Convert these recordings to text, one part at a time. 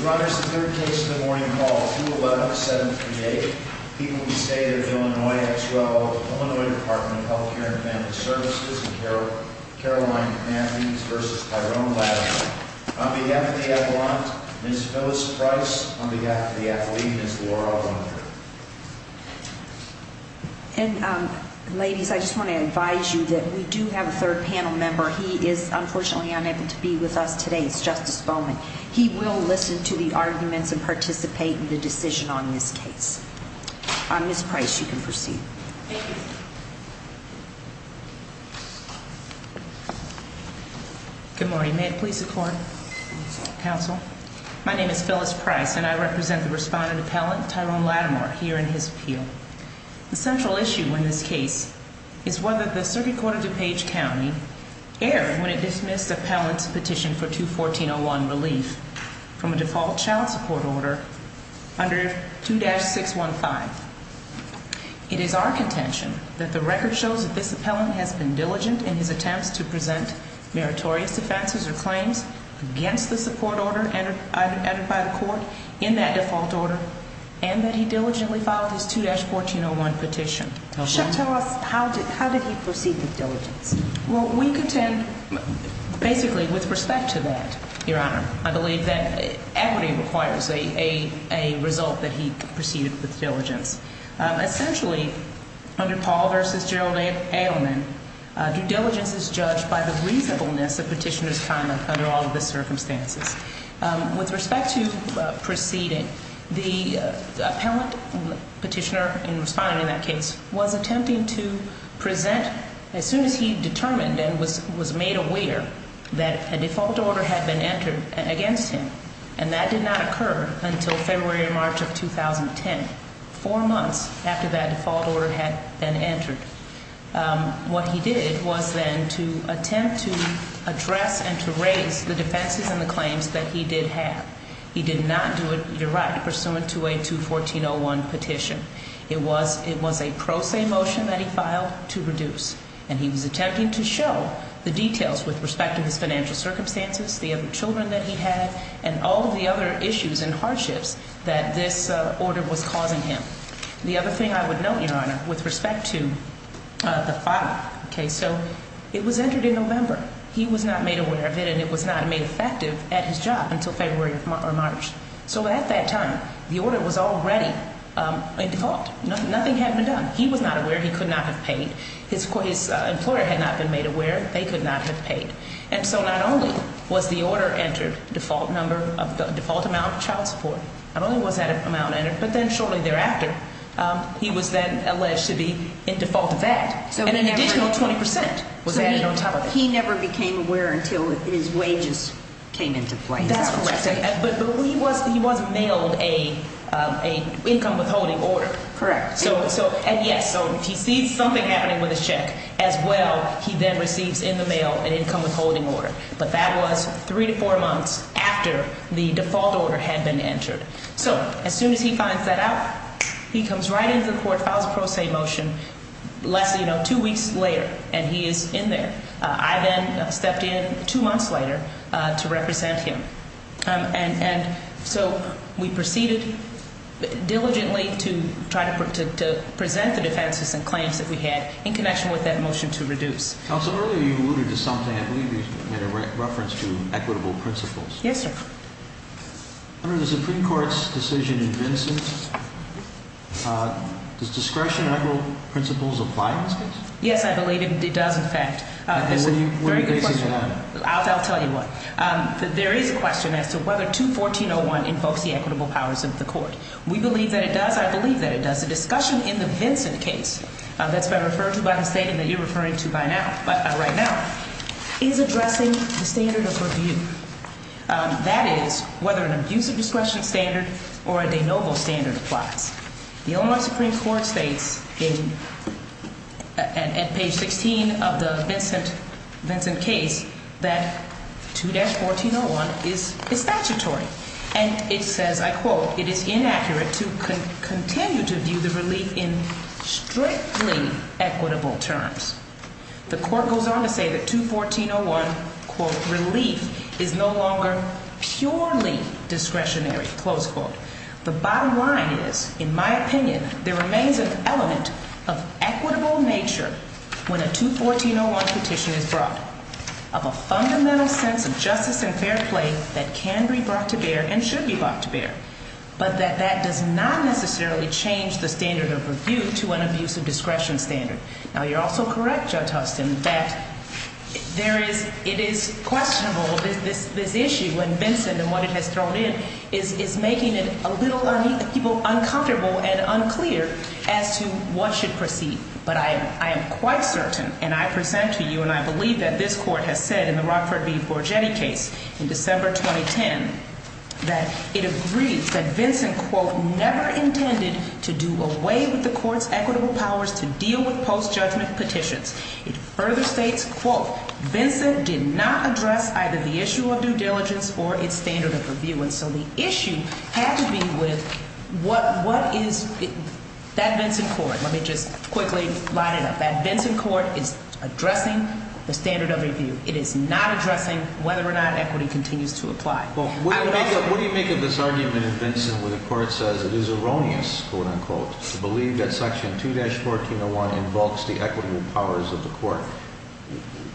Your Honor, this is the third case of the morning called 2-11-738. People who stay there in Illinois have to go to the Illinois Department of Health Care and Family Services and Caroline Matthews v. Tyrone Lattimore. On behalf of the appellant, Ms. Phyllis Price. On behalf of the athlete, Ms. Laura Winder. And ladies, I just want to advise you that we do have a third panel member. He is unfortunately unable to be with us today. It's Justice Bowman. He will listen to the arguments and participate in the decision on this case. Ms. Price, you can proceed. Thank you. Good morning. May it please the court? Counsel. Counsel. My name is Phyllis Price and I represent the respondent appellant, Tyrone Lattimore, here in his appeal. The central issue in this case is whether the Circuit Court of DuPage County erred when it dismissed the appellant's petition for 214-01 relief from a default child support order under 2-615. It is our contention that the record shows that this appellant has been diligent in his attempts to present meritorious offenses or claims against the support order entered by the court in that default order and that he diligently filed his 2-1401 petition. How did he proceed with diligence? Well, we contend basically with respect to that, Your Honor. I believe that equity requires a result that he proceeded with diligence. Essentially, under Paul v. Gerald Ailman, due diligence is judged by the reasonableness of petitioner's conduct under all of the circumstances. With respect to proceeding, the appellant petitioner and respondent in that case was attempting to present as soon as he determined and was made aware that a default order had been entered against him. And that did not occur until February or March of 2010, four months after that default order had been entered. What he did was then to attempt to address and to raise the defenses and the claims that he did have. He did not do it, you're right, pursuant to a 214-01 petition. It was a pro se motion that he filed to reduce. And he was attempting to show the details with respect to his financial circumstances, the other children that he had, and all of the other issues and hardships that this order was causing him. The other thing I would note, Your Honor, with respect to the filing, okay, so it was entered in November. He was not made aware of it, and it was not made effective at his job until February or March. So at that time, the order was already in default. Nothing had been done. He was not aware. He could not have paid. His employer had not been made aware. They could not have paid. And so not only was the order entered, default number, default amount of child support, not only was that amount entered, but then shortly thereafter, he was then alleged to be in default of that. And an additional 20% was added on top of it. He never became aware until his wages came into play. That's correct. But he was mailed an income withholding order. Correct. And, yes, so if he sees something happening with his check, as well, he then receives in the mail an income withholding order. But that was three to four months after the default order had been entered. So as soon as he finds that out, he comes right into the court, files a pro se motion two weeks later, and he is in there. I then stepped in two months later to represent him. And so we proceeded diligently to try to present the defenses and claims that we had in connection with that motion to reduce. Counsel, earlier you alluded to something. I believe you made a reference to equitable principles. Yes, sir. Under the Supreme Court's decision in Vinson, does discretionary principles apply in this case? Yes, I believe it does, in fact. What are you basing it on? I'll tell you what. There is a question as to whether 214.01 invokes the equitable powers of the court. We believe that it does. I believe that it does. The discussion in the Vinson case that's been referred to by the state and that you're referring to by now, is addressing the standard of review. That is, whether an abuse of discretion standard or a de novo standard applies. The Illinois Supreme Court states at page 16 of the Vinson case that 214.01 is statutory. And it says, I quote, it is inaccurate to continue to view the relief in strictly equitable terms. The court goes on to say that 214.01, quote, relief is no longer purely discretionary, close quote. The bottom line is, in my opinion, there remains an element of equitable nature when a 214.01 petition is brought, of a fundamental sense of justice and fair play that can be brought to bear and should be brought to bear, but that that does not necessarily change the standard of review to an abuse of discretion standard. Now, you're also correct, Judge Huston, that there is, it is questionable, this issue and Vinson and what it has thrown in, is making it a little uncomfortable and unclear as to what should proceed. But I am quite certain, and I present to you and I believe that this court has said in the Rockford v. Borgetti case in December 2010, that it agrees that Vinson, quote, never intended to do away with the court's equitable powers to deal with post-judgment petitions. It further states, quote, Vinson did not address either the issue of due diligence or its standard of review. And so the issue had to be with what is, that Vinson court, let me just quickly line it up. That Vinson court is addressing the standard of review. It is not addressing whether or not equity continues to apply. Well, what do you make of this argument in Vinson where the court says it is erroneous, quote, unquote, to believe that section 2-1401 involves the equitable powers of the court?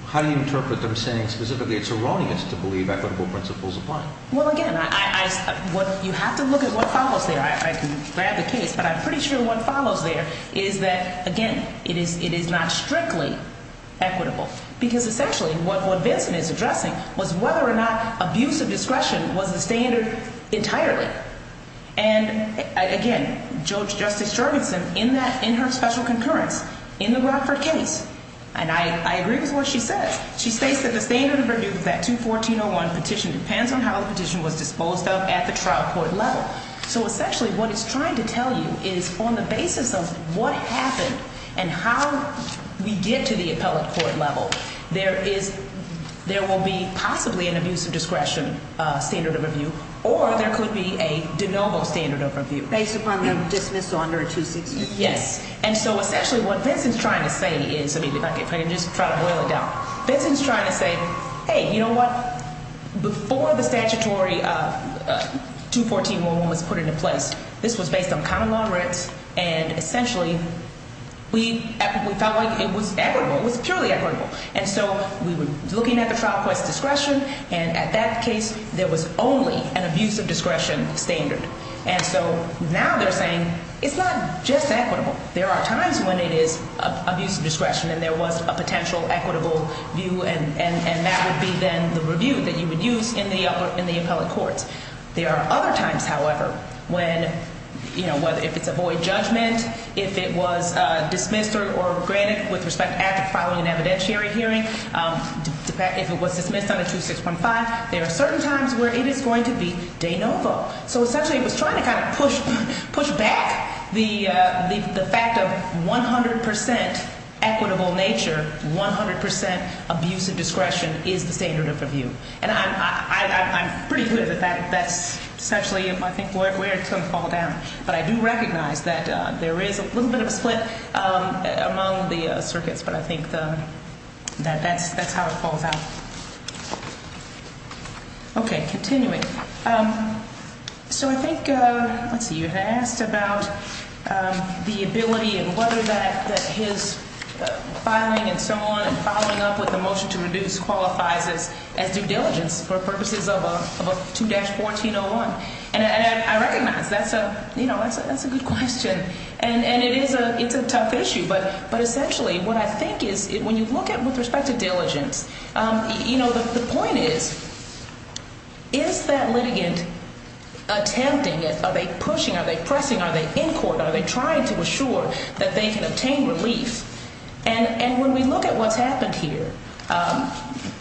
How do you interpret them saying specifically it's erroneous to believe equitable principles apply? Well, again, I, I, I, what, you have to look at what follows there. I, I can grab the case, but I'm pretty sure what follows there is that, again, it is, it is not strictly equitable. Because essentially what, what Vinson is addressing was whether or not abuse of discretion was the standard entirely. And, again, Judge, Justice Jorgensen in that, in her special concurrence, in the Rockford case, and I, I agree with what she says. She states that the standard of review for that 2-1401 petition depends on how the petition was disposed of at the trial court level. So essentially what it's trying to tell you is on the basis of what happened and how we get to the appellate court level, there is, there will be possibly an abuse of discretion standard of review, or there could be a de novo standard of review. Based upon the dismissal under a 265? Yes. And so essentially what Vinson's trying to say is, I mean, if I can just try to boil it down, Vinson's trying to say, hey, you know what, before the statutory 2-1401 was put into place, this was based on common law rights, and essentially we felt like it was equitable, it was purely equitable. And so we were looking at the trial court's discretion, and at that case there was only an abuse of discretion standard. And so now they're saying it's not just equitable. There are times when it is abuse of discretion and there was a potential equitable view, and that would be then the review that you would use in the appellate courts. There are other times, however, when, you know, if it's a void judgment, if it was dismissed or granted with respect after filing an evidentiary hearing, if it was dismissed under 2615, there are certain times where it is going to be de novo. So essentially it was trying to kind of push back the fact of 100% equitable nature, 100% abuse of discretion is the standard of review. And I'm pretty clear that that's essentially, I think, where it's going to fall down. But I do recognize that there is a little bit of a split among the circuits, but I think that's how it falls out. Okay, continuing. So I think, let's see, you had asked about the ability and whether that his filing and so on and following up with the motion to reduce qualifies as due diligence for purposes of a 2-1401. And I recognize that's a, you know, that's a good question, and it is a tough issue. But essentially what I think is when you look at it with respect to diligence, you know, the point is, is that litigant attempting it? Are they pushing? Are they pressing? Are they in court? Are they trying to assure that they can obtain relief? And when we look at what's happened here,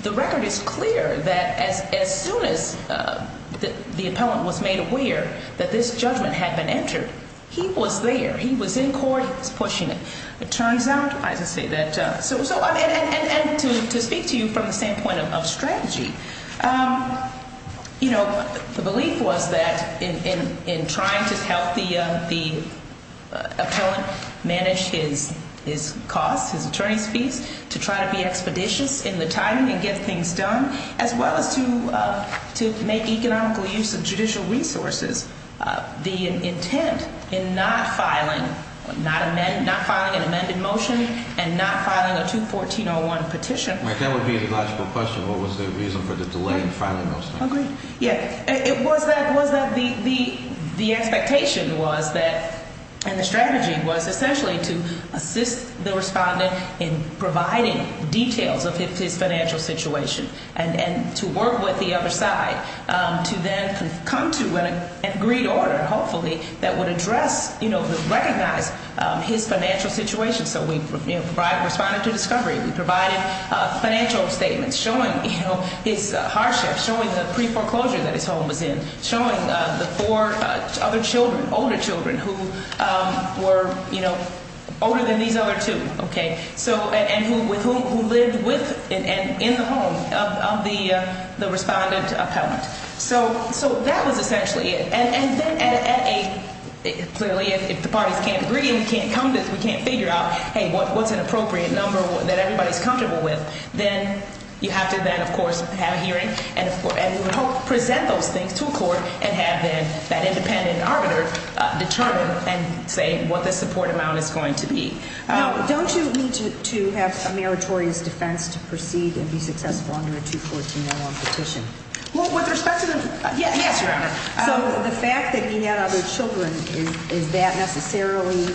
the record is clear that as soon as the appellant was made aware that this judgment had been entered, he was there. He was in court. He was pushing it. It turns out, I should say that, and to speak to you from the same point of strategy, you know, the belief was that in trying to help the appellant manage his costs, his attorney's fees, to try to be expeditious in the timing and get things done, as well as to make economical use of judicial resources, the intent in not filing an amended motion and not filing a 214-01 petition. That would be a logical question. What was the reason for the delay in filing those things? Yeah. It was that the expectation was that, and the strategy was essentially to assist the respondent in providing details of his financial situation and to work with the other side to then come to an agreed order, hopefully, that would address, you know, recognize his financial situation. So we provided a respondent to discovery. We provided financial statements showing, you know, his hardship, showing the pre-foreclosure that his home was in, showing the four other children, older children who were, you know, older than these other two, okay, and who lived with and in the home of the respondent appellant. So that was essentially it. And then at a, clearly, if the parties can't agree and we can't come to, we can't figure out, hey, what's an appropriate number that everybody's comfortable with, then you have to then, of course, have a hearing and present those things to a court and have then that independent arbiter determine and say what the support amount is going to be. Now, don't you need to have a meritorious defense to proceed and be successful under a 214-01 petition? Well, with respect to the – yes, Your Honor. So the fact that he had other children, is that necessarily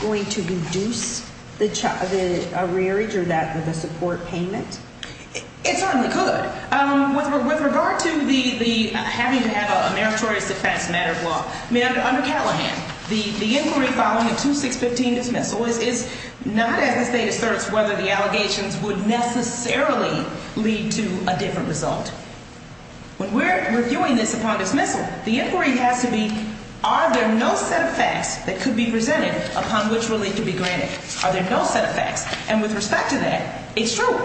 going to reduce the rearage or the support payment? It certainly could. With regard to the having to have a meritorious defense matter of law, I mean, under Callahan, the inquiry following a 2615 dismissal is not as the state asserts whether the allegations would necessarily lead to a different result. When we're reviewing this upon dismissal, the inquiry has to be, are there no set of facts that could be presented upon which relief could be granted? Are there no set of facts? And with respect to that, it's true.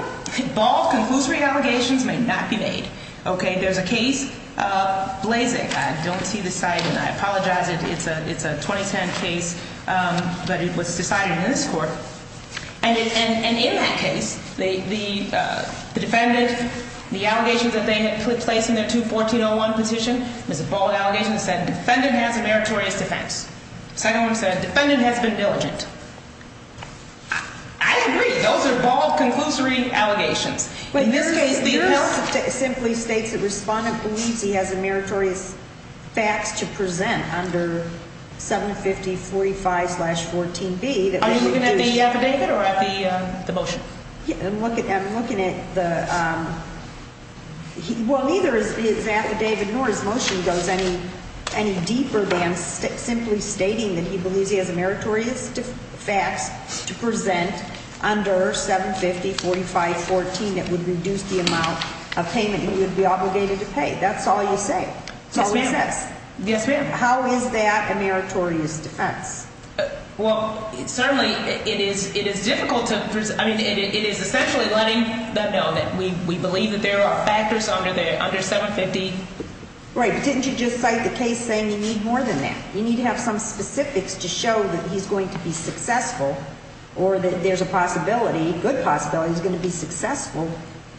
Bald, conclusory allegations may not be made, okay? There's a case, Blazek. I don't see the slide, and I apologize. It's a 2010 case, but it was decided in this court. And in that case, the defendant, the allegations that they had placed in their 214-01 petition, there's a bald allegation that said defendant has a meritorious defense. Second one said defendant has been diligent. I agree. Those are bald, conclusory allegations. In this case, the appeal simply states that respondent believes he has a meritorious facts to present under 75045-14B. Are you looking at the affidavit or at the motion? I'm looking at the – well, neither is the affidavit nor his motion goes any deeper than simply stating that he believes he has a meritorious facts to present under 75045-14 that would reduce the amount of payment he would be obligated to pay. That's all you say. Yes, ma'am. That's all he says. Yes, ma'am. How is that a meritorious defense? Well, certainly it is difficult to – I mean, it is essentially letting them know that we believe that there are factors under 750. Right, but didn't you just cite the case saying you need more than that? You need to have some specifics to show that he's going to be successful or that there's a possibility, good possibility, he's going to be successful.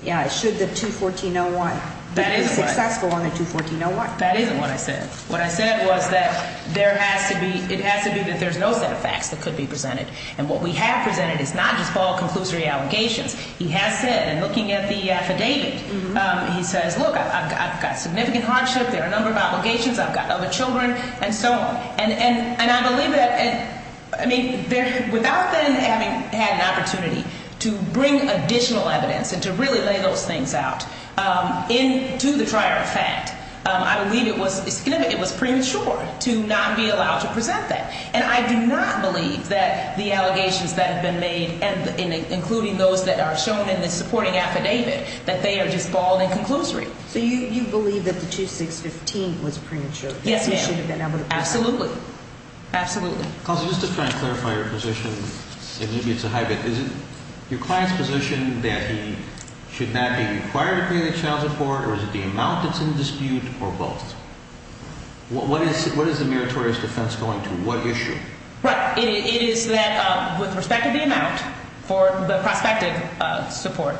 Yeah, should the 214-01 be successful on the 214-01. That isn't what I said. What I said was that there has to be – it has to be that there's no set of facts that could be presented. And what we have presented is not just Paul conclusory allegations. He has said, and looking at the affidavit, he says, look, I've got significant hardship, there are a number of obligations, I've got other children, and so on. And I believe that – I mean, without then having had an opportunity to bring additional evidence and to really lay those things out into the trier of fact, I believe it was premature to not be allowed to present that. And I do not believe that the allegations that have been made, including those that are shown in the supporting affidavit, that they are just bald and conclusory. So you believe that the 2615 was premature? Yes, ma'am. Absolutely. Absolutely. Counsel, just to try and clarify your position, and maybe it's a hybrid, is it your client's position that he should not be required to pay the child support, or is it the amount that's in dispute, or both? What is the meritorious defense going to? What issue? Right. It is that with respect to the amount for the prospective support,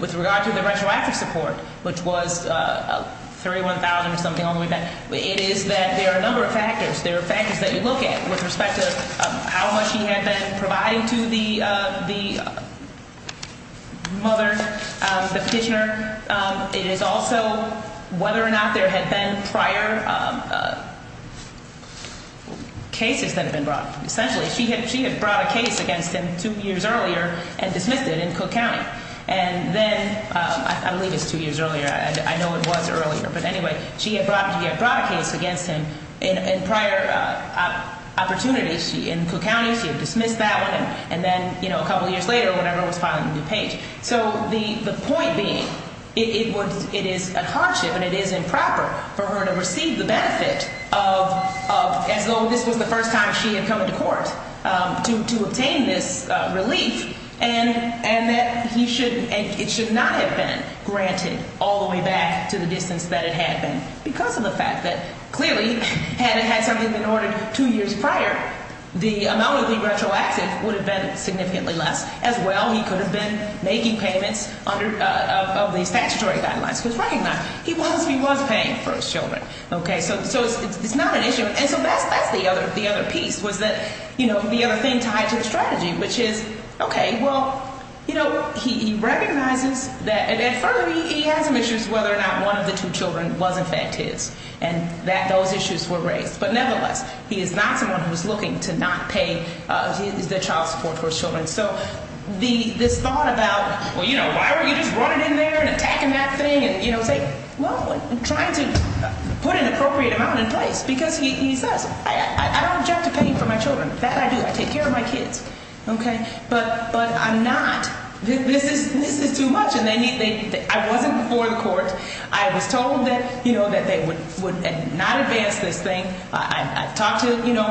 with regard to the retroactive support, which was $31,000 or something all the way back, it is that there are a number of factors. There are factors that you look at with respect to how much he had been providing to the mother, the petitioner. It is also whether or not there had been prior cases that had been brought. Essentially, she had brought a case against him two years earlier and dismissed it in Cook County. I believe it's two years earlier. I know it was earlier. But anyway, she had brought a case against him in prior opportunities in Cook County. She had dismissed that one. And then a couple years later, whenever I was filing the new page. So the point being, it is a hardship and it is improper for her to receive the benefit of, as though this was the first time she had come into court, to obtain this relief. And that it should not have been granted all the way back to the distance that it had been because of the fact that, clearly, had it had something been ordered two years prior, the amount of the retroactive would have been significantly less. As well, he could have been making payments under the statutory guidelines. Because recognize, he was paying for his children. So it's not an issue. And so that's the other piece, was that, you know, the other thing tied to the strategy, which is, okay, well, you know, he recognizes that. And further, he has some issues whether or not one of the two children was, in fact, his, and that those issues were raised. But nevertheless, he is not someone who is looking to not pay the child support for his children. So this thought about, well, you know, why don't you just run it in there and attack him that thing and, you know, say, well, I'm trying to put an appropriate amount in place. Because he says, I don't object to paying for my children. That I do. I take care of my kids. Okay. But I'm not. This is too much. And I wasn't before the court. I was told that, you know, that they would not advance this thing. I talked to, you know,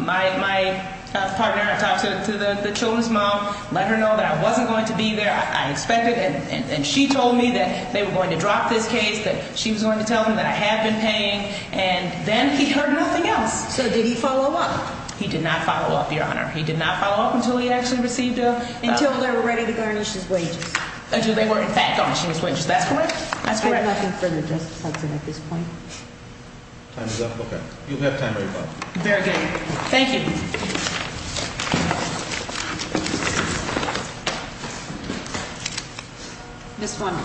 my partner. I talked to the children's mom. Let her know that I wasn't going to be there. I expected. And she told me that they were going to drop this case, that she was going to tell them that I had been paying. And then he heard nothing else. So did he follow up? He did not follow up, Your Honor. He did not follow up until he actually received a – Until they were ready to garnish his wages. Until they were, in fact, garnishing his wages. That's correct. That's correct. We have nothing further to discuss at this point. Time is up? Okay. You have time, everybody. Very good. Thank you. Ms. Forman.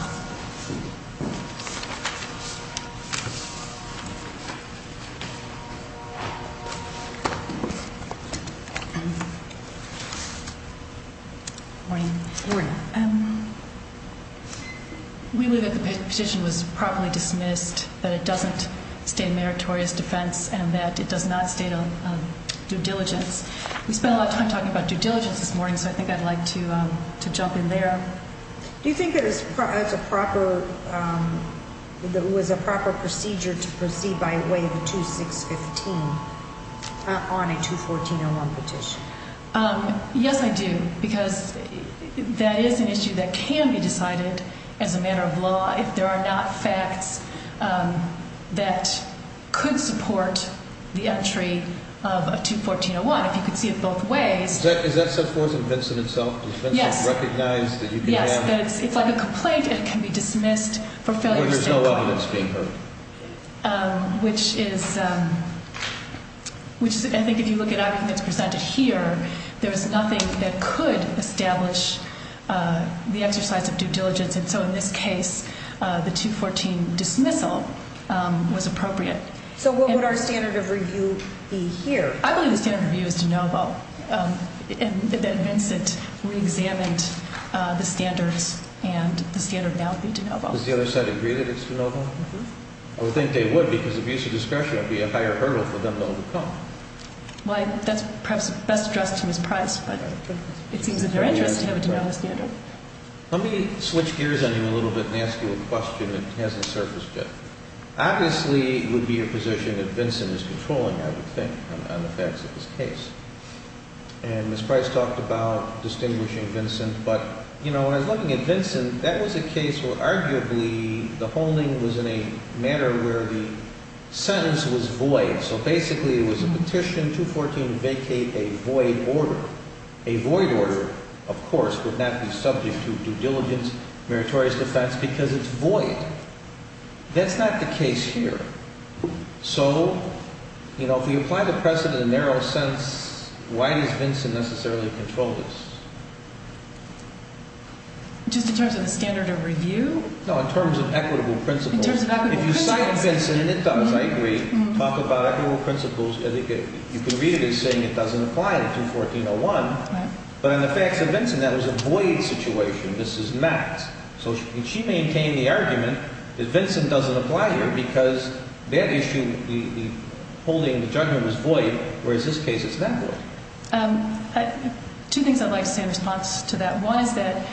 Morning. Morning. We believe that the petition was properly dismissed, that it doesn't state a meritorious defense, and that it does not state a due diligence. We spent a lot of time talking about due diligence this morning, so I think I'd like to jump in there. Do you think it was a proper procedure to proceed by way of a 2-6-15 on a 2-14-01 petition? Yes, I do, because that is an issue that can be decided as a matter of law if there are not facts that could support the entry of a 2-14-01. If you could see it both ways. Is that set forth in Vincent itself? Yes. Does Vincent recognize that you can have – Yes. It's like a complaint, and it can be dismissed for failure to stand by. Or there's no evidence being heard. Which is – I think if you look at everything that's presented here, there's nothing that could establish the exercise of due diligence. And so in this case, the 2-14 dismissal was appropriate. So what would our standard of review be here? I believe the standard of review is de novo, that Vincent reexamined the standards, and the standard now would be de novo. Does the other side agree that it's de novo? I would think they would, because abuse of discretion would be a higher hurdle for them to overcome. Well, that's perhaps best addressed to Ms. Price, but it seems in their interest to have it de novo standard. Let me switch gears on you a little bit and ask you a question that hasn't surfaced yet. Obviously, it would be a position that Vincent is controlling, I would think, on the facts of this case. And Ms. Price talked about distinguishing Vincent. But, you know, when I was looking at Vincent, that was a case where arguably the holding was in a manner where the sentence was void. So basically it was a petition, 2-14, vacate a void order. A void order, of course, would not be subject to due diligence, meritorious defense, because it's void. That's not the case here. So, you know, if we apply the precedent in a narrow sense, why does Vincent necessarily control this? Just in terms of the standard of review? No, in terms of equitable principles. In terms of equitable principles. If you cite Vincent, and it does, I agree, talk about equitable principles, you can read it as saying it doesn't apply in 2-14-01. But on the facts of Vincent, that was a void situation. This is met. So she maintained the argument that Vincent doesn't apply here because that issue, the holding, the judgment was void, whereas this case it's not void. Two things I'd like to say in response to that. One is that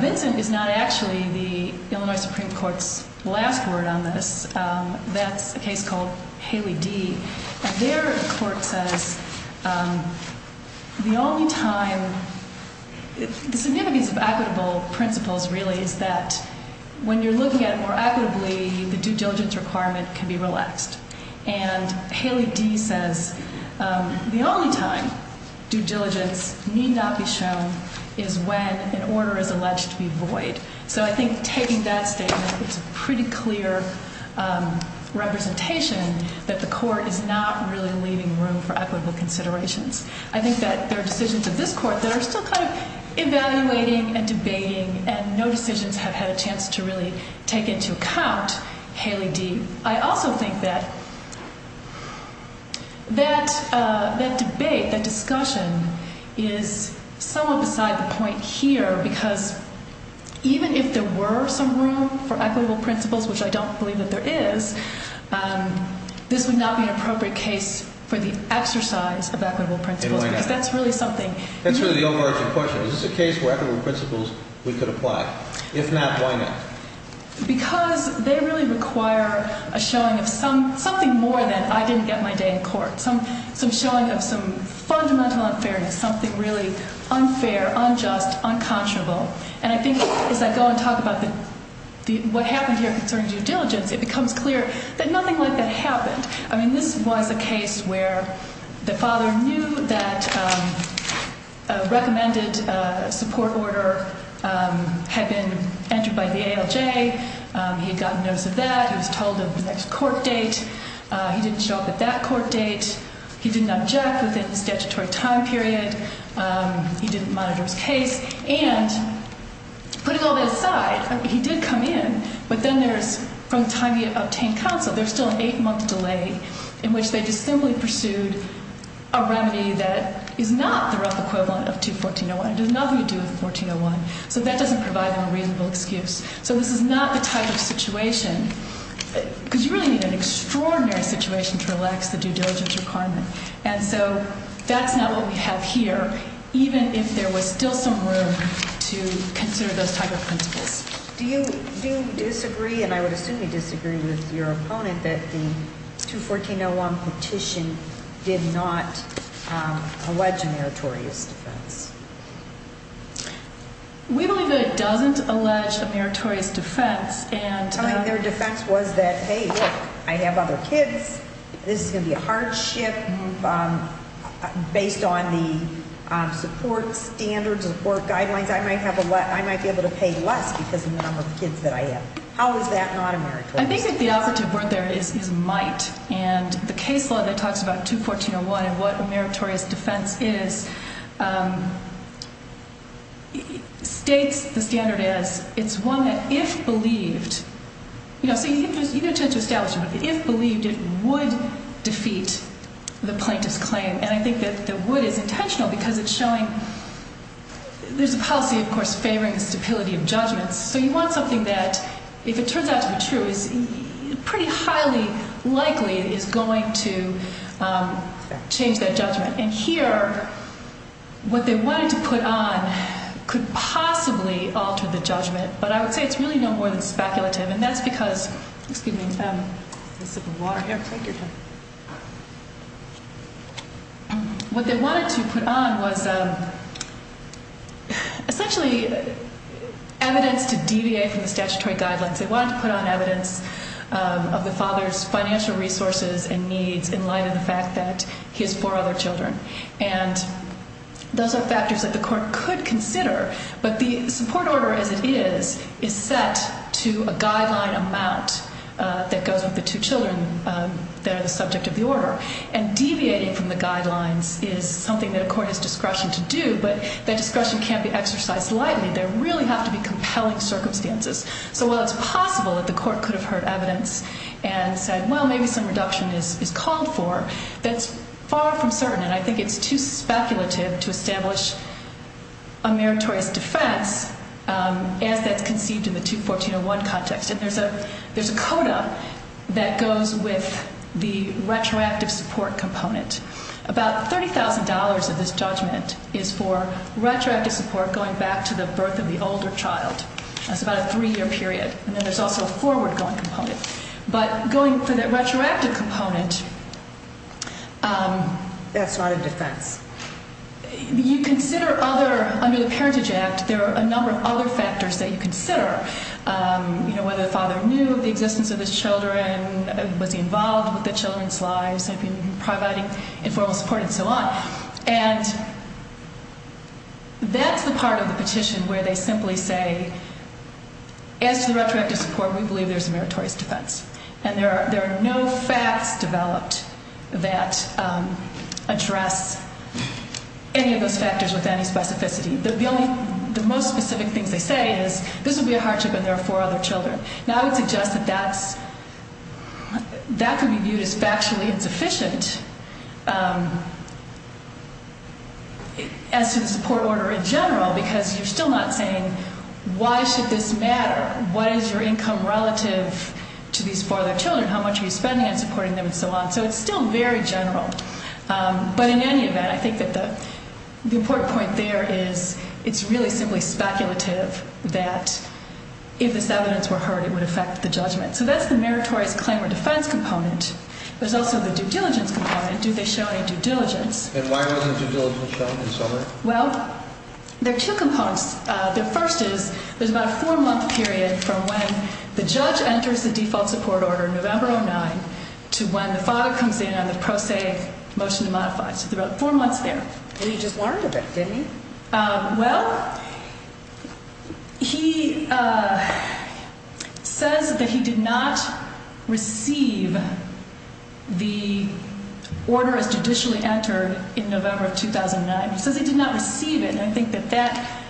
Vincent is not actually the Illinois Supreme Court's last word on this. That's a case called Haley D. And there the court says the only time, the significance of equitable principles, really, is that when you're looking at it more equitably, the due diligence requirement can be relaxed. And Haley D. says the only time due diligence need not be shown is when an order is alleged to be void. So I think taking that statement, it's a pretty clear representation that the court is not really leaving room for equitable considerations. I think that there are decisions of this court that are still kind of evaluating and debating, and no decisions have had a chance to really take into account Haley D. I also think that that debate, that discussion is somewhat beside the point here because even if there were some room for equitable principles, which I don't believe that there is, this would not be an appropriate case for the exercise of equitable principles. And why not? Because that's really something. That's really the overarching question. Is this a case where equitable principles we could apply? If not, why not? Because they really require a showing of something more than I didn't get my day in court. Some showing of some fundamental unfairness, something really unfair, unjust, unconscionable. And I think as I go and talk about what happened here concerning due diligence, it becomes clear that nothing like that happened. I mean, this was a case where the father knew that a recommended support order had been entered by the ALJ. He had gotten notice of that. He was told of the next court date. He didn't show up at that court date. He didn't object within the statutory time period. He didn't monitor his case. And putting all that aside, he did come in. But then there's, from the time he obtained counsel, there's still an eight-month delay in which they just simply pursued a remedy that is not the rough equivalent of 214-01. It does not have anything to do with 1401. So that doesn't provide them a reasonable excuse. So this is not the type of situation, because you really need an extraordinary situation to relax the due diligence requirement. And so that's not what we have here, even if there was still some room to consider those type of principles. Do you disagree, and I would assume you disagree with your opponent, that the 214-01 petition did not allege a meritorious defense? We believe that it doesn't allege a meritorious defense. I think their defense was that, hey, look, I have other kids. This is going to be a hardship. Based on the support standards, support guidelines, I might be able to pay less because of the number of kids that I have. How is that not a meritorious defense? I think the operative word there is might. And the case law that talks about 214-01 and what a meritorious defense is states the standard as it's one that if believed, you know, so you get a chance to establish it, but if believed it would defeat the plaintiff's claim. And I think that the would is intentional because it's showing there's a policy, of course, favoring the stability of judgments. So you want something that, if it turns out to be true, is pretty highly likely is going to change that judgment. And here, what they wanted to put on could possibly alter the judgment, but I would say it's really no more than speculative. And that's because, excuse me, I have a sip of water here. Take your time. What they wanted to put on was essentially evidence to deviate from the statutory guidelines. They wanted to put on evidence of the father's financial resources and needs in light of the fact that he has four other children. And those are factors that the court could consider, but the support order as it is is set to a guideline amount that goes with the two children that are the subject of the order. And deviating from the guidelines is something that a court has discretion to do, but that discretion can't be exercised lightly. There really have to be compelling circumstances. So while it's possible that the court could have heard evidence and said, well, maybe some reduction is called for, that's far from certain. And I think it's too speculative to establish a meritorious defense as that's conceived in the 21401 context. And there's a coda that goes with the retroactive support component. About $30,000 of this judgment is for retroactive support going back to the birth of the older child. That's about a three-year period. And then there's also a forward-going component. But going for that retroactive component... That's not a defense. You consider other, under the Parentage Act, there are a number of other factors that you consider, whether the father knew of the existence of his children, was he involved with the children's lives, had he been providing informal support, and so on. And that's the part of the petition where they simply say, as to the retroactive support, we believe there's a meritorious defense. And there are no facts developed that address any of those factors with any specificity. The most specific things they say is, this will be a hardship when there are four other children. Now, I would suggest that that could be viewed as factually insufficient as to the support order in general, because you're still not saying, why should this matter? What is your income relative to these four other children? How much are you spending on supporting them, and so on? So it's still very general. But in any event, I think that the important point there is it's really simply speculative that if this evidence were heard, it would affect the judgment. So that's the meritorious claim or defense component. There's also the due diligence component. Do they show any due diligence? And why wasn't due diligence shown in summary? Well, there are two components. The first is there's about a four-month period from when the judge enters the default support order, November 2009, to when the father comes in on the pro se motion to modify. So there are four months there. Well, you just learned of it, didn't you? Well, he says that he did not receive the order as judicially entered in November of 2009. He says he did not receive it, and I think that that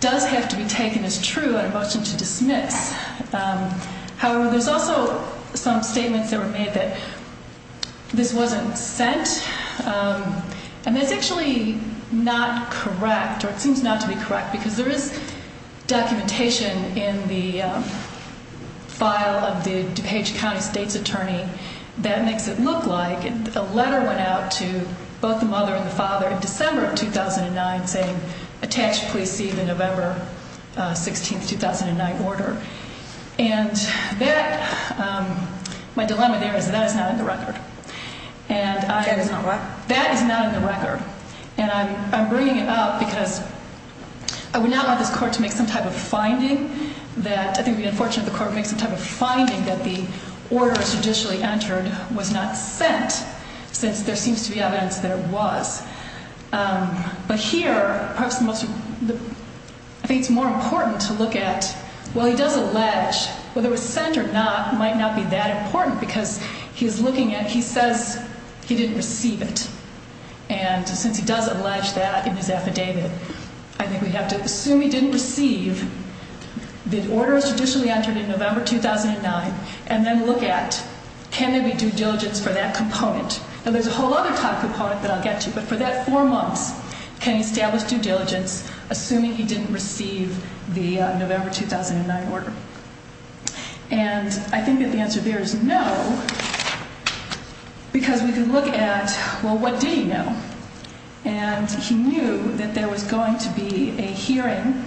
does have to be taken as true on a motion to dismiss. However, there's also some statements that were made that this wasn't sent, and that's actually not correct, or it seems not to be correct, because there is documentation in the file of the DuPage County state's attorney that makes it look like a letter went out to both the mother and the father in December of 2009 saying, attach police to the November 16, 2009 order. And that, my dilemma there is that that is not in the record. That is not what? That is not in the record. And I'm bringing it up because I would not want this court to make some type of finding that, I think it would be unfortunate if the court makes some type of finding that the order as judicially entered was not sent, since there seems to be evidence that it was. But here, I think it's more important to look at, well, he does allege whether it was sent or not might not be that important, because he's looking at, he says he didn't receive it, and since he does allege that in his affidavit, I think we have to assume he didn't receive the order as judicially entered in November 2009, and then look at, can there be due diligence for that component? And there's a whole other type of component that I'll get to, but for that four months, can he establish due diligence assuming he didn't receive the November 2009 order? And I think that the answer there is no, because we can look at, well, what did he know? And he knew that there was going to be a hearing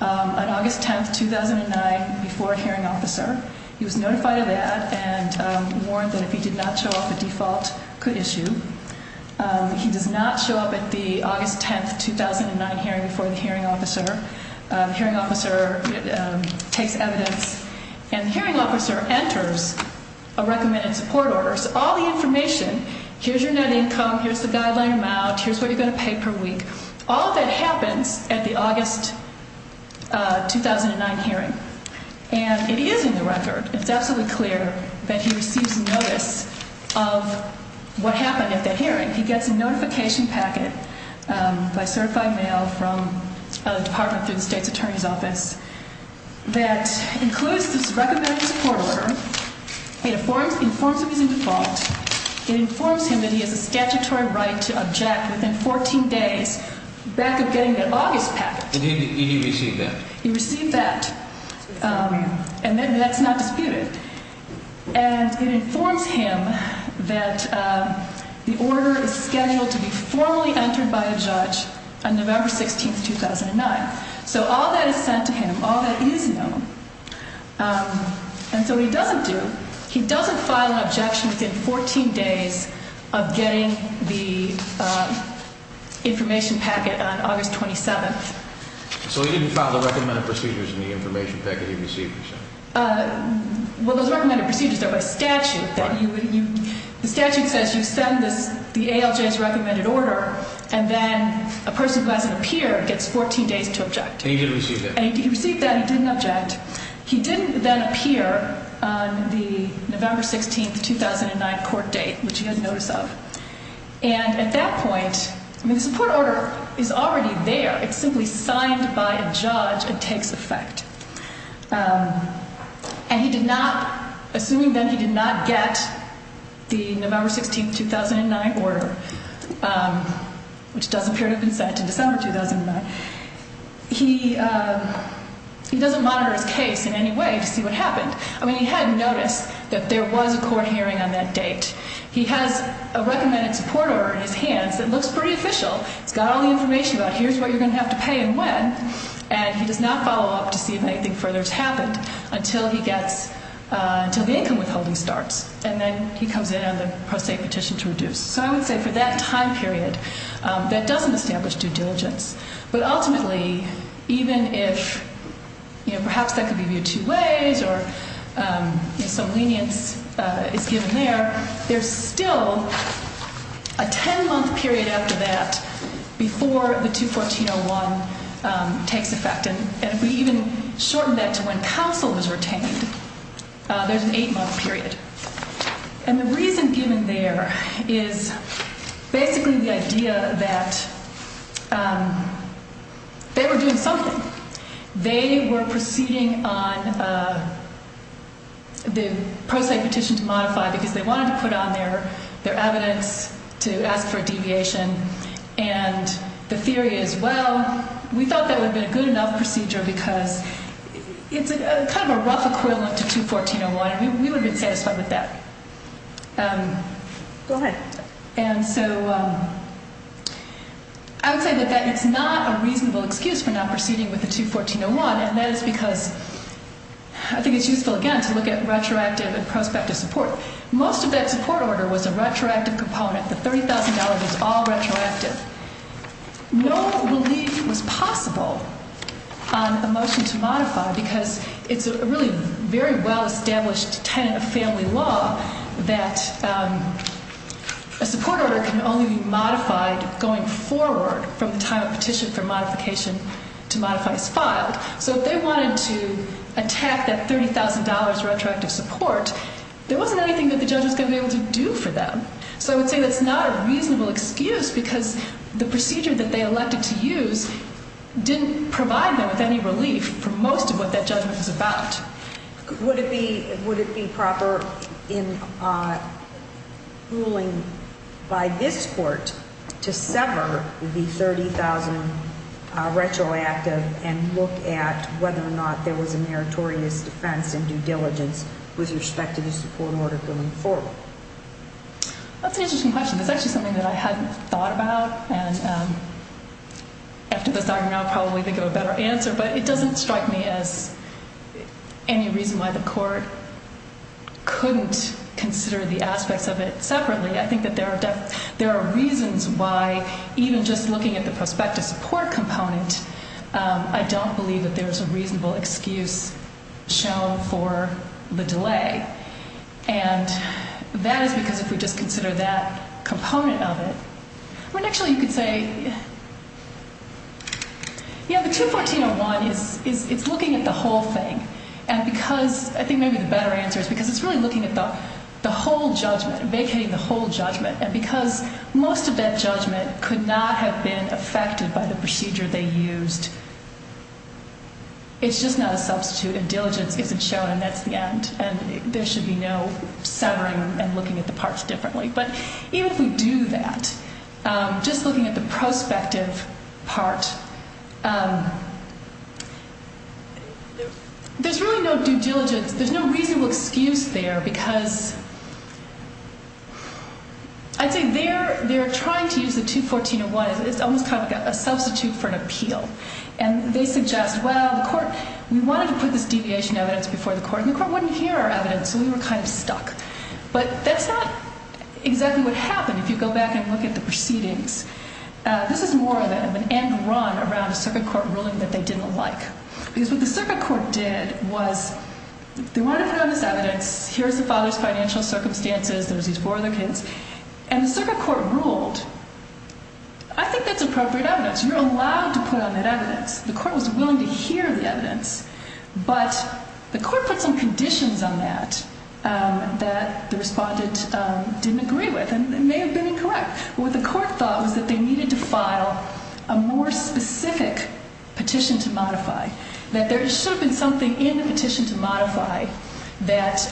on August 10, 2009, before a hearing officer. He was notified of that and warned that if he did not show up, a default could issue. He does not show up at the August 10, 2009 hearing before the hearing officer. The hearing officer takes evidence, and the hearing officer enters a recommended support order. So all the information, here's your net income, here's the guideline amount, here's what you're going to pay per week, all of that happens at the August 2009 hearing, and it is in the record. It's absolutely clear that he receives notice of what happened at that hearing. He gets a notification packet by certified mail from the Department through the State's Attorney's Office that includes this recommended support order. It informs him he's in default. It informs him that he has a statutory right to object within 14 days back of getting that August packet. And he received that? He received that, and that's not disputed. And it informs him that the order is scheduled to be formally entered by a judge on November 16, 2009. So all that is sent to him, all that is known. And so what he doesn't do, he doesn't file an objection within 14 days of getting the information packet on August 27. So he didn't file the recommended procedures in the information packet he received? Well, those recommended procedures are by statute. The statute says you send the ALJ's recommended order, and then a person who hasn't appeared gets 14 days to object. And he did receive that? And he received that. He didn't object. He didn't then appear on the November 16, 2009 court date, which he had notice of. And at that point, I mean, the support order is already there. It's simply signed by a judge and takes effect. And he did not, assuming then he did not get the November 16, 2009 order, which does appear to have been sent in December 2009, he doesn't monitor his case in any way to see what happened. I mean, he had noticed that there was a court hearing on that date. He has a recommended support order in his hands that looks pretty official. It's got all the information about here's what you're going to have to pay and when. And he does not follow up to see if anything further has happened until he gets, until the income withholding starts. And then he comes in on the pro se petition to reduce. So I would say for that time period, that doesn't establish due diligence. But ultimately, even if perhaps that could be viewed two ways or some lenience is given there, there's still a 10 month period after that before the 214-01 takes effect. And if we even shorten that to when counsel is retained, there's an eight month period. And the reason given there is basically the idea that they were doing something. They were proceeding on the pro se petition to modify because they wanted to put on their evidence to ask for a deviation. And the theory is, well, we thought that would have been a good enough procedure because it's kind of a rough equivalent to 214-01. We would have been satisfied with that. Go ahead. And so I would say that that is not a reasonable excuse for not proceeding with the 214-01. And that is because I think it's useful, again, to look at retroactive and prospective support. Most of that support order was a retroactive component. The $30,000 was all retroactive. No relief was possible on a motion to modify because it's a really very well-established tenet of family law that a support order can only be modified going forward from the time a petition for modification to modify is filed. So if they wanted to attack that $30,000 retroactive support, there wasn't anything that the judge was going to be able to do for them. So I would say that's not a reasonable excuse because the procedure that they elected to use didn't provide them with any relief for most of what that judgment was about. Would it be proper in ruling by this court to sever the $30,000 retroactive and look at whether or not there was a meritorious defense in due diligence with respect to the support order going forward? That's an interesting question. That's actually something that I hadn't thought about. And after this argument, I'll probably think of a better answer. But it doesn't strike me as any reason why the court couldn't consider the aspects of it separately. I think that there are reasons why even just looking at the prospective support component, I don't believe that there's a reasonable excuse shown for the delay. And that is because if we just consider that component of it, I mean, actually, you could say, yeah, the 214-01 is looking at the whole thing. And because I think maybe the better answer is because it's really looking at the whole judgment, vacating the whole judgment. And because most of that judgment could not have been affected by the procedure they used, it's just not a substitute, and diligence isn't shown, and that's the end. And there should be no severing and looking at the parts differently. But even if we do that, just looking at the prospective part, there's really no due diligence. There's no reasonable excuse there because I'd say they're trying to use the 214-01 as almost kind of a substitute for an appeal. And they suggest, well, the court, we wanted to put this deviation evidence before the court, and the court wouldn't hear our evidence, so we were kind of stuck. But that's not exactly what happened. If you go back and look at the proceedings, this is more of an end run around a circuit court ruling that they didn't like. Because what the circuit court did was they wanted to put on this evidence, here's the father's financial circumstances, there's these four other kids. And the circuit court ruled, I think that's appropriate evidence. You're allowed to put on that evidence. The court was willing to hear the evidence, but the court put some conditions on that that the respondent didn't agree with and may have been incorrect. What the court thought was that they needed to file a more specific petition to modify. That there should have been something in the petition to modify that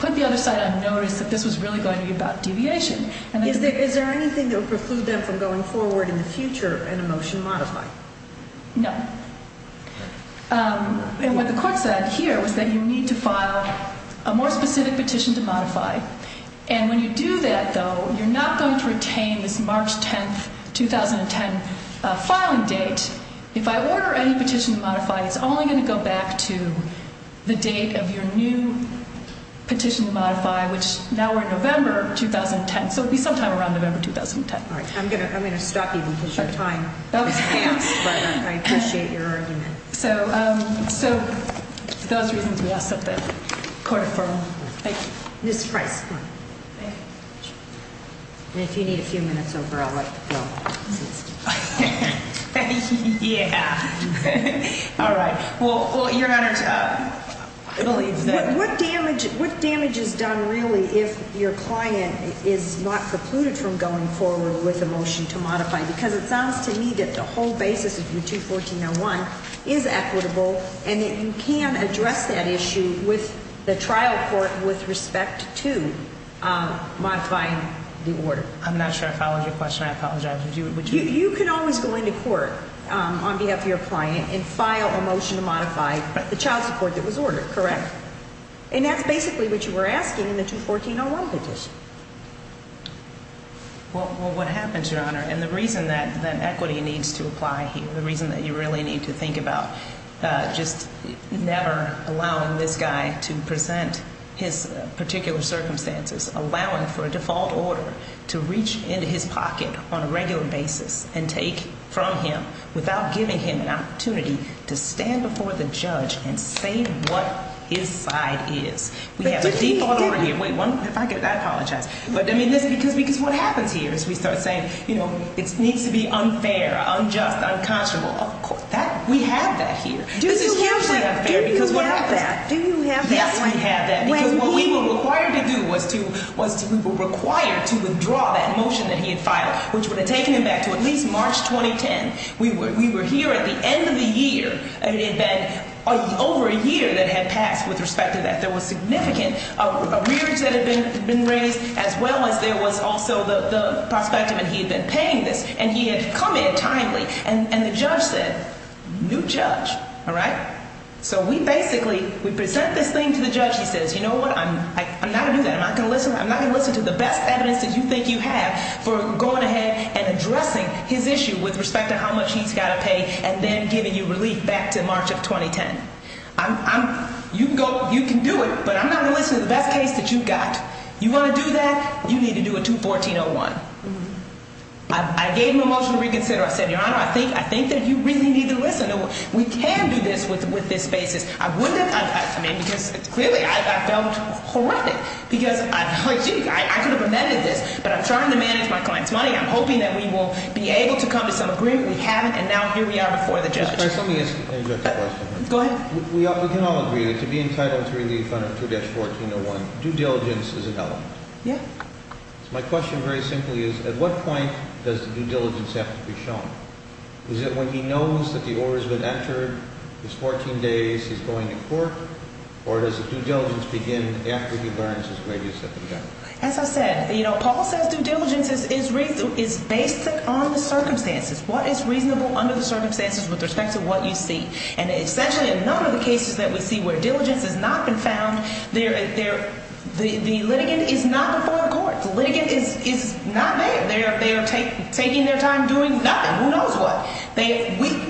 put the other side on notice that this was really going to be about deviation. Is there anything that would preclude them from going forward in the future in a motion to modify? No. And what the court said here was that you need to file a more specific petition to modify. And when you do that, though, you're not going to retain this March 10, 2010 filing date. If I order any petition to modify, it's only going to go back to the date of your new petition to modify, which now we're in November 2010. So it will be sometime around November 2010. All right. I'm going to stop you because your time has passed, but I appreciate your argument. So for those reasons, we ask that the court affirm. Thank you. Ms. Price, come on. Thank you. And if you need a few minutes over, I'll let you go. Yeah. All right. Well, Your Honor, I believe that. What damage is done, really, if your client is not precluded from going forward with a motion to modify? Because it sounds to me that the whole basis of your 214-01 is equitable and that you can address that issue with the trial court with respect to modifying the order. I'm not sure I followed your question. I apologize. You can always go into court on behalf of your client and file a motion to modify the child support that was ordered, correct? And that's basically what you were asking in the 214-01 petition. Well, what happens, Your Honor, and the reason that equity needs to apply here, the reason that you really need to think about just never allowing this guy to present his particular circumstances, allowing for a default order to reach into his pocket on a regular basis and take from him without giving him an opportunity to stand before the judge and say what his side is. We have a default order here. Wait, if I get that, I apologize. But, I mean, this is because what happens here is we start saying, you know, it needs to be unfair, unjust, unconscionable. Of course, we have that here. This is hugely unfair because what happens? Do you have that? Yes, we have that. Because what we were required to do was we were required to withdraw that motion that he had filed, which would have taken him back to at least March 2010. We were here at the end of the year. It had been over a year that had passed with respect to that. There was significant arrearage that had been raised, as well as there was also the prospective, and he had been paying this, and he had come in timely. And the judge said, new judge. All right? So we basically, we present this thing to the judge. He says, you know what? I'm not going to do that. I'm not going to listen. I'm not going to listen to the best evidence that you think you have for going ahead and addressing his issue with respect to how much he's got to pay and then giving you relief back to March of 2010. You can do it, but I'm not going to listen to the best case that you've got. You want to do that? You need to do a 214-01. I gave him a motion to reconsider. I said, Your Honor, I think that you really need to listen. We can do this with this basis. I wouldn't have, I mean, because clearly I felt horrific because, gee, I could have amended this, but I'm trying to manage my client's money. I'm hoping that we will be able to come to some agreement. We haven't, and now here we are before the judge. Ms. Price, let me ask another question. Go ahead. We can all agree that to be entitled to relief under 214-01, due diligence is an element. Yeah. So my question very simply is, at what point does due diligence have to be shown? Is it when he knows that the order has been entered, it's 14 days, he's going to court, or does the due diligence begin after he learns his way to the second court? As I said, you know, Paul says due diligence is basic on the circumstances. What is reasonable under the circumstances with respect to what you see? And essentially in none of the cases that we see where diligence has not been found, the litigant is not before court. The litigant is not there. They are taking their time doing nothing. Who knows what.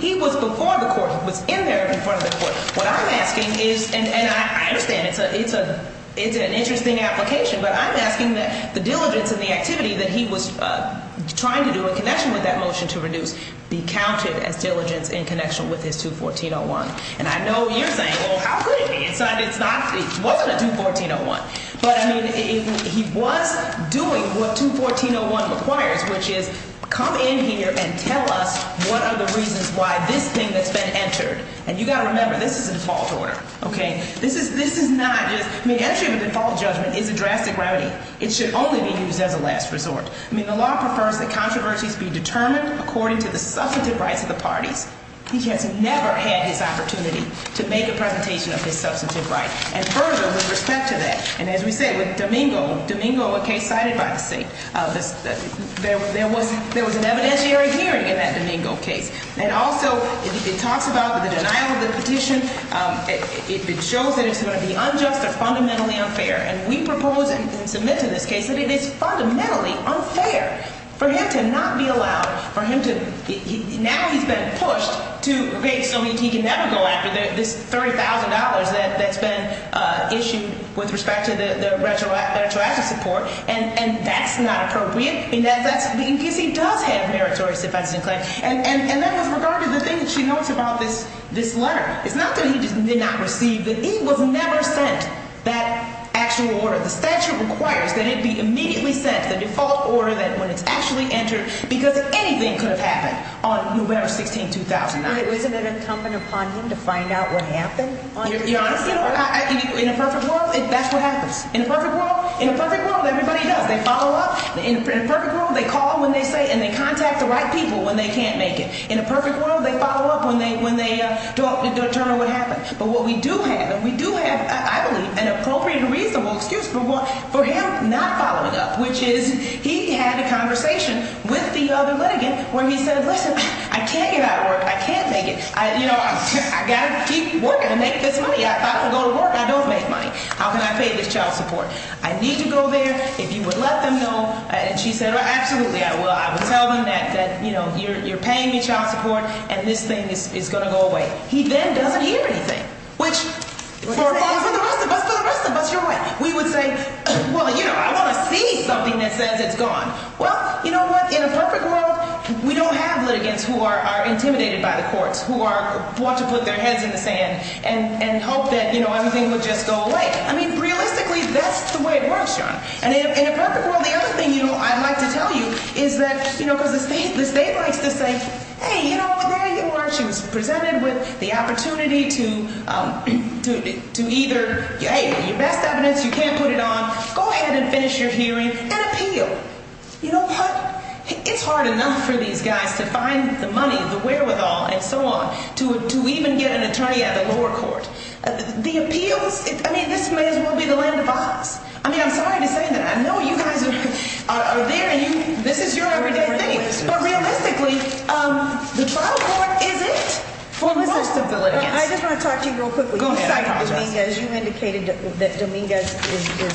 He was before the court. He was in there in front of the court. What I'm asking is, and I understand it's an interesting application, but I'm asking that the diligence and the activity that he was trying to do in connection with that motion to reduce be counted as diligence in connection with his 214-01. And I know you're saying, well, how could it be? It's not, it wasn't a 214-01. But, I mean, he was doing what 214-01 requires, which is come in here and tell us what are the reasons why this thing that's been entered. And you've got to remember, this is a default order. Okay? This is not just, I mean, entry of a default judgment is a drastic remedy. It should only be used as a last resort. I mean, the law prefers that controversies be determined according to the substantive rights of the parties. He has never had this opportunity to make a presentation of his substantive rights. And further, with respect to that, and as we say, with Domingo, Domingo, a case cited by the state, there was an evidentiary hearing in that Domingo case. And also, it talks about the denial of the petition. It shows that it's going to be unjust or fundamentally unfair. And we propose and submit to this case that it is fundamentally unfair for him to not be allowed, for him to, now he's been pushed to create something he can never go after, this $30,000 that's been issued with respect to the retroactive support. And that's not appropriate. And that's, because he does have meritorious offenses in claim. And that was regarding the thing that she notes about this letter. It's not that he did not receive it. He was never sent that actual order. The statute requires that it be immediately sent, the default order that when it's actually entered, because anything could have happened on November 16, 2009. Isn't it incumbent upon him to find out what happened? Your Honor, you know, in a perfect world, that's what happens. In a perfect world, in a perfect world, everybody does. They follow up. In a perfect world, they call when they say, and they contact the right people when they can't make it. In a perfect world, they follow up when they don't determine what happened. But what we do have, and we do have, I believe, an appropriate and reasonable excuse for him not following up, which is he had a conversation with the other litigant where he said, listen, I can't get out of work. I can't make it. You know, I've got to keep working to make this money. If I don't go to work, I don't make money. How can I pay this child support? I need to go there. If you would let them know, and she said, absolutely, I will. I would tell them that, you know, you're paying me child support, and this thing is going to go away. He then doesn't hear anything, which for the rest of us, for the rest of us, we would say, well, you know, I want to see something that says it's gone. Well, you know what? In a perfect world, we don't have litigants who are intimidated by the courts, who want to put their heads in the sand and hope that, you know, everything would just go away. I mean, realistically, that's the way it works, John. And in a perfect world, the other thing, you know, I'd like to tell you is that, you know, because the state likes to say, hey, you know, there you are. She was presented with the opportunity to either, hey, your best evidence, you can't put it on, go ahead and finish your hearing and appeal. You know what? It's hard enough for these guys to find the money, the wherewithal, and so on, to even get an attorney at the lower court. The appeals, I mean, this may as well be the land of Oz. I mean, I'm sorry to say that. I know you guys are there and this is your everyday thing. But realistically, the trial court isn't for most of the litigants. I just want to talk to you real quickly. Go ahead. You cited Dominguez. You indicated that Dominguez is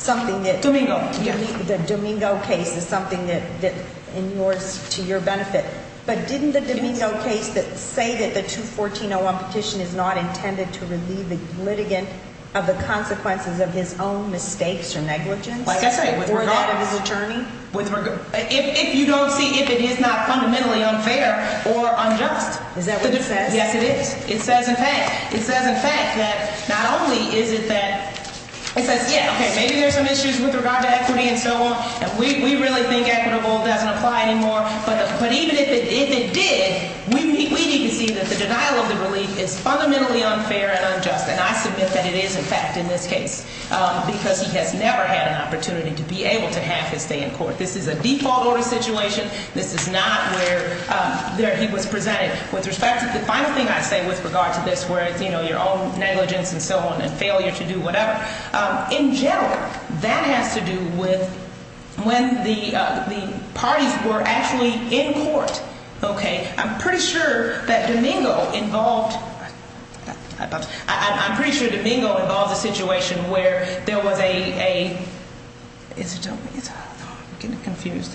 something that... Domingo. The Domingo case is something that in yours, to your benefit. But didn't the Domingo case say that the 214-01 petition is not intended to relieve the litigant of the consequences of his own mistakes or negligence? Like I said, with regard... Or that of his attorney? If you don't see if it is not fundamentally unfair or unjust. Is that what it says? Yes, it is. It says, in fact, that not only is it that... It says, yeah, okay, maybe there's some issues with regard to equity and so on. And we really think equitable doesn't apply anymore. But even if it did, we need to see that the denial of the relief is fundamentally unfair and unjust. And I submit that it is, in fact, in this case. Because he has never had an opportunity to be able to have his stay in court. This is a default order situation. This is not where he was presented. With respect to the final thing I say with regard to this, where it's, you know, your own negligence and so on and failure to do whatever. In general, that has to do with when the parties were actually in court. Okay. I'm pretty sure that Domingo involved... I'm pretty sure Domingo involved a situation where there was a... Is it Domingo? I'm getting confused.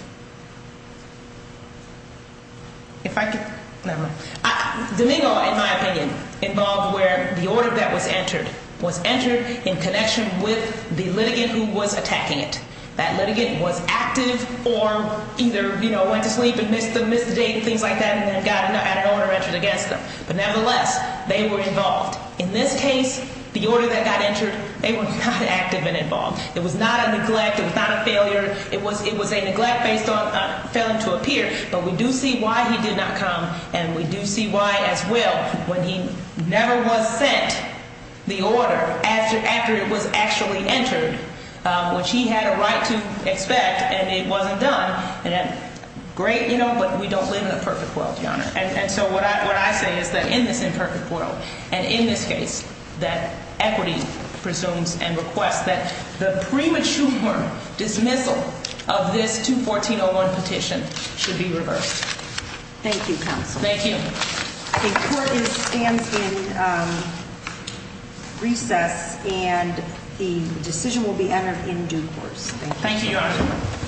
If I could... Never mind. Domingo, in my opinion, involved where the order that was entered was entered in connection with the litigant who was attacking it. That litigant was active or either, you know, went to sleep and missed the date and things like that and got an order entered against them. But nevertheless, they were involved. In this case, the order that got entered, they were not active and involved. It was not a neglect. It was not a failure. It was a neglect based on failing to appear. But we do see why he did not come, and we do see why, as well, when he never was sent the order after it was actually entered, which he had a right to expect and it wasn't done. Great, you know, but we don't live in a perfect world, Your Honor. And so what I say is that in this imperfect world and in this case, that equity presumes and requests that the premature dismissal of this 214-01 petition should be reversed. Thank you, counsel. Thank you. The court stands in recess, and the decision will be entered in due course. Thank you, Your Honor.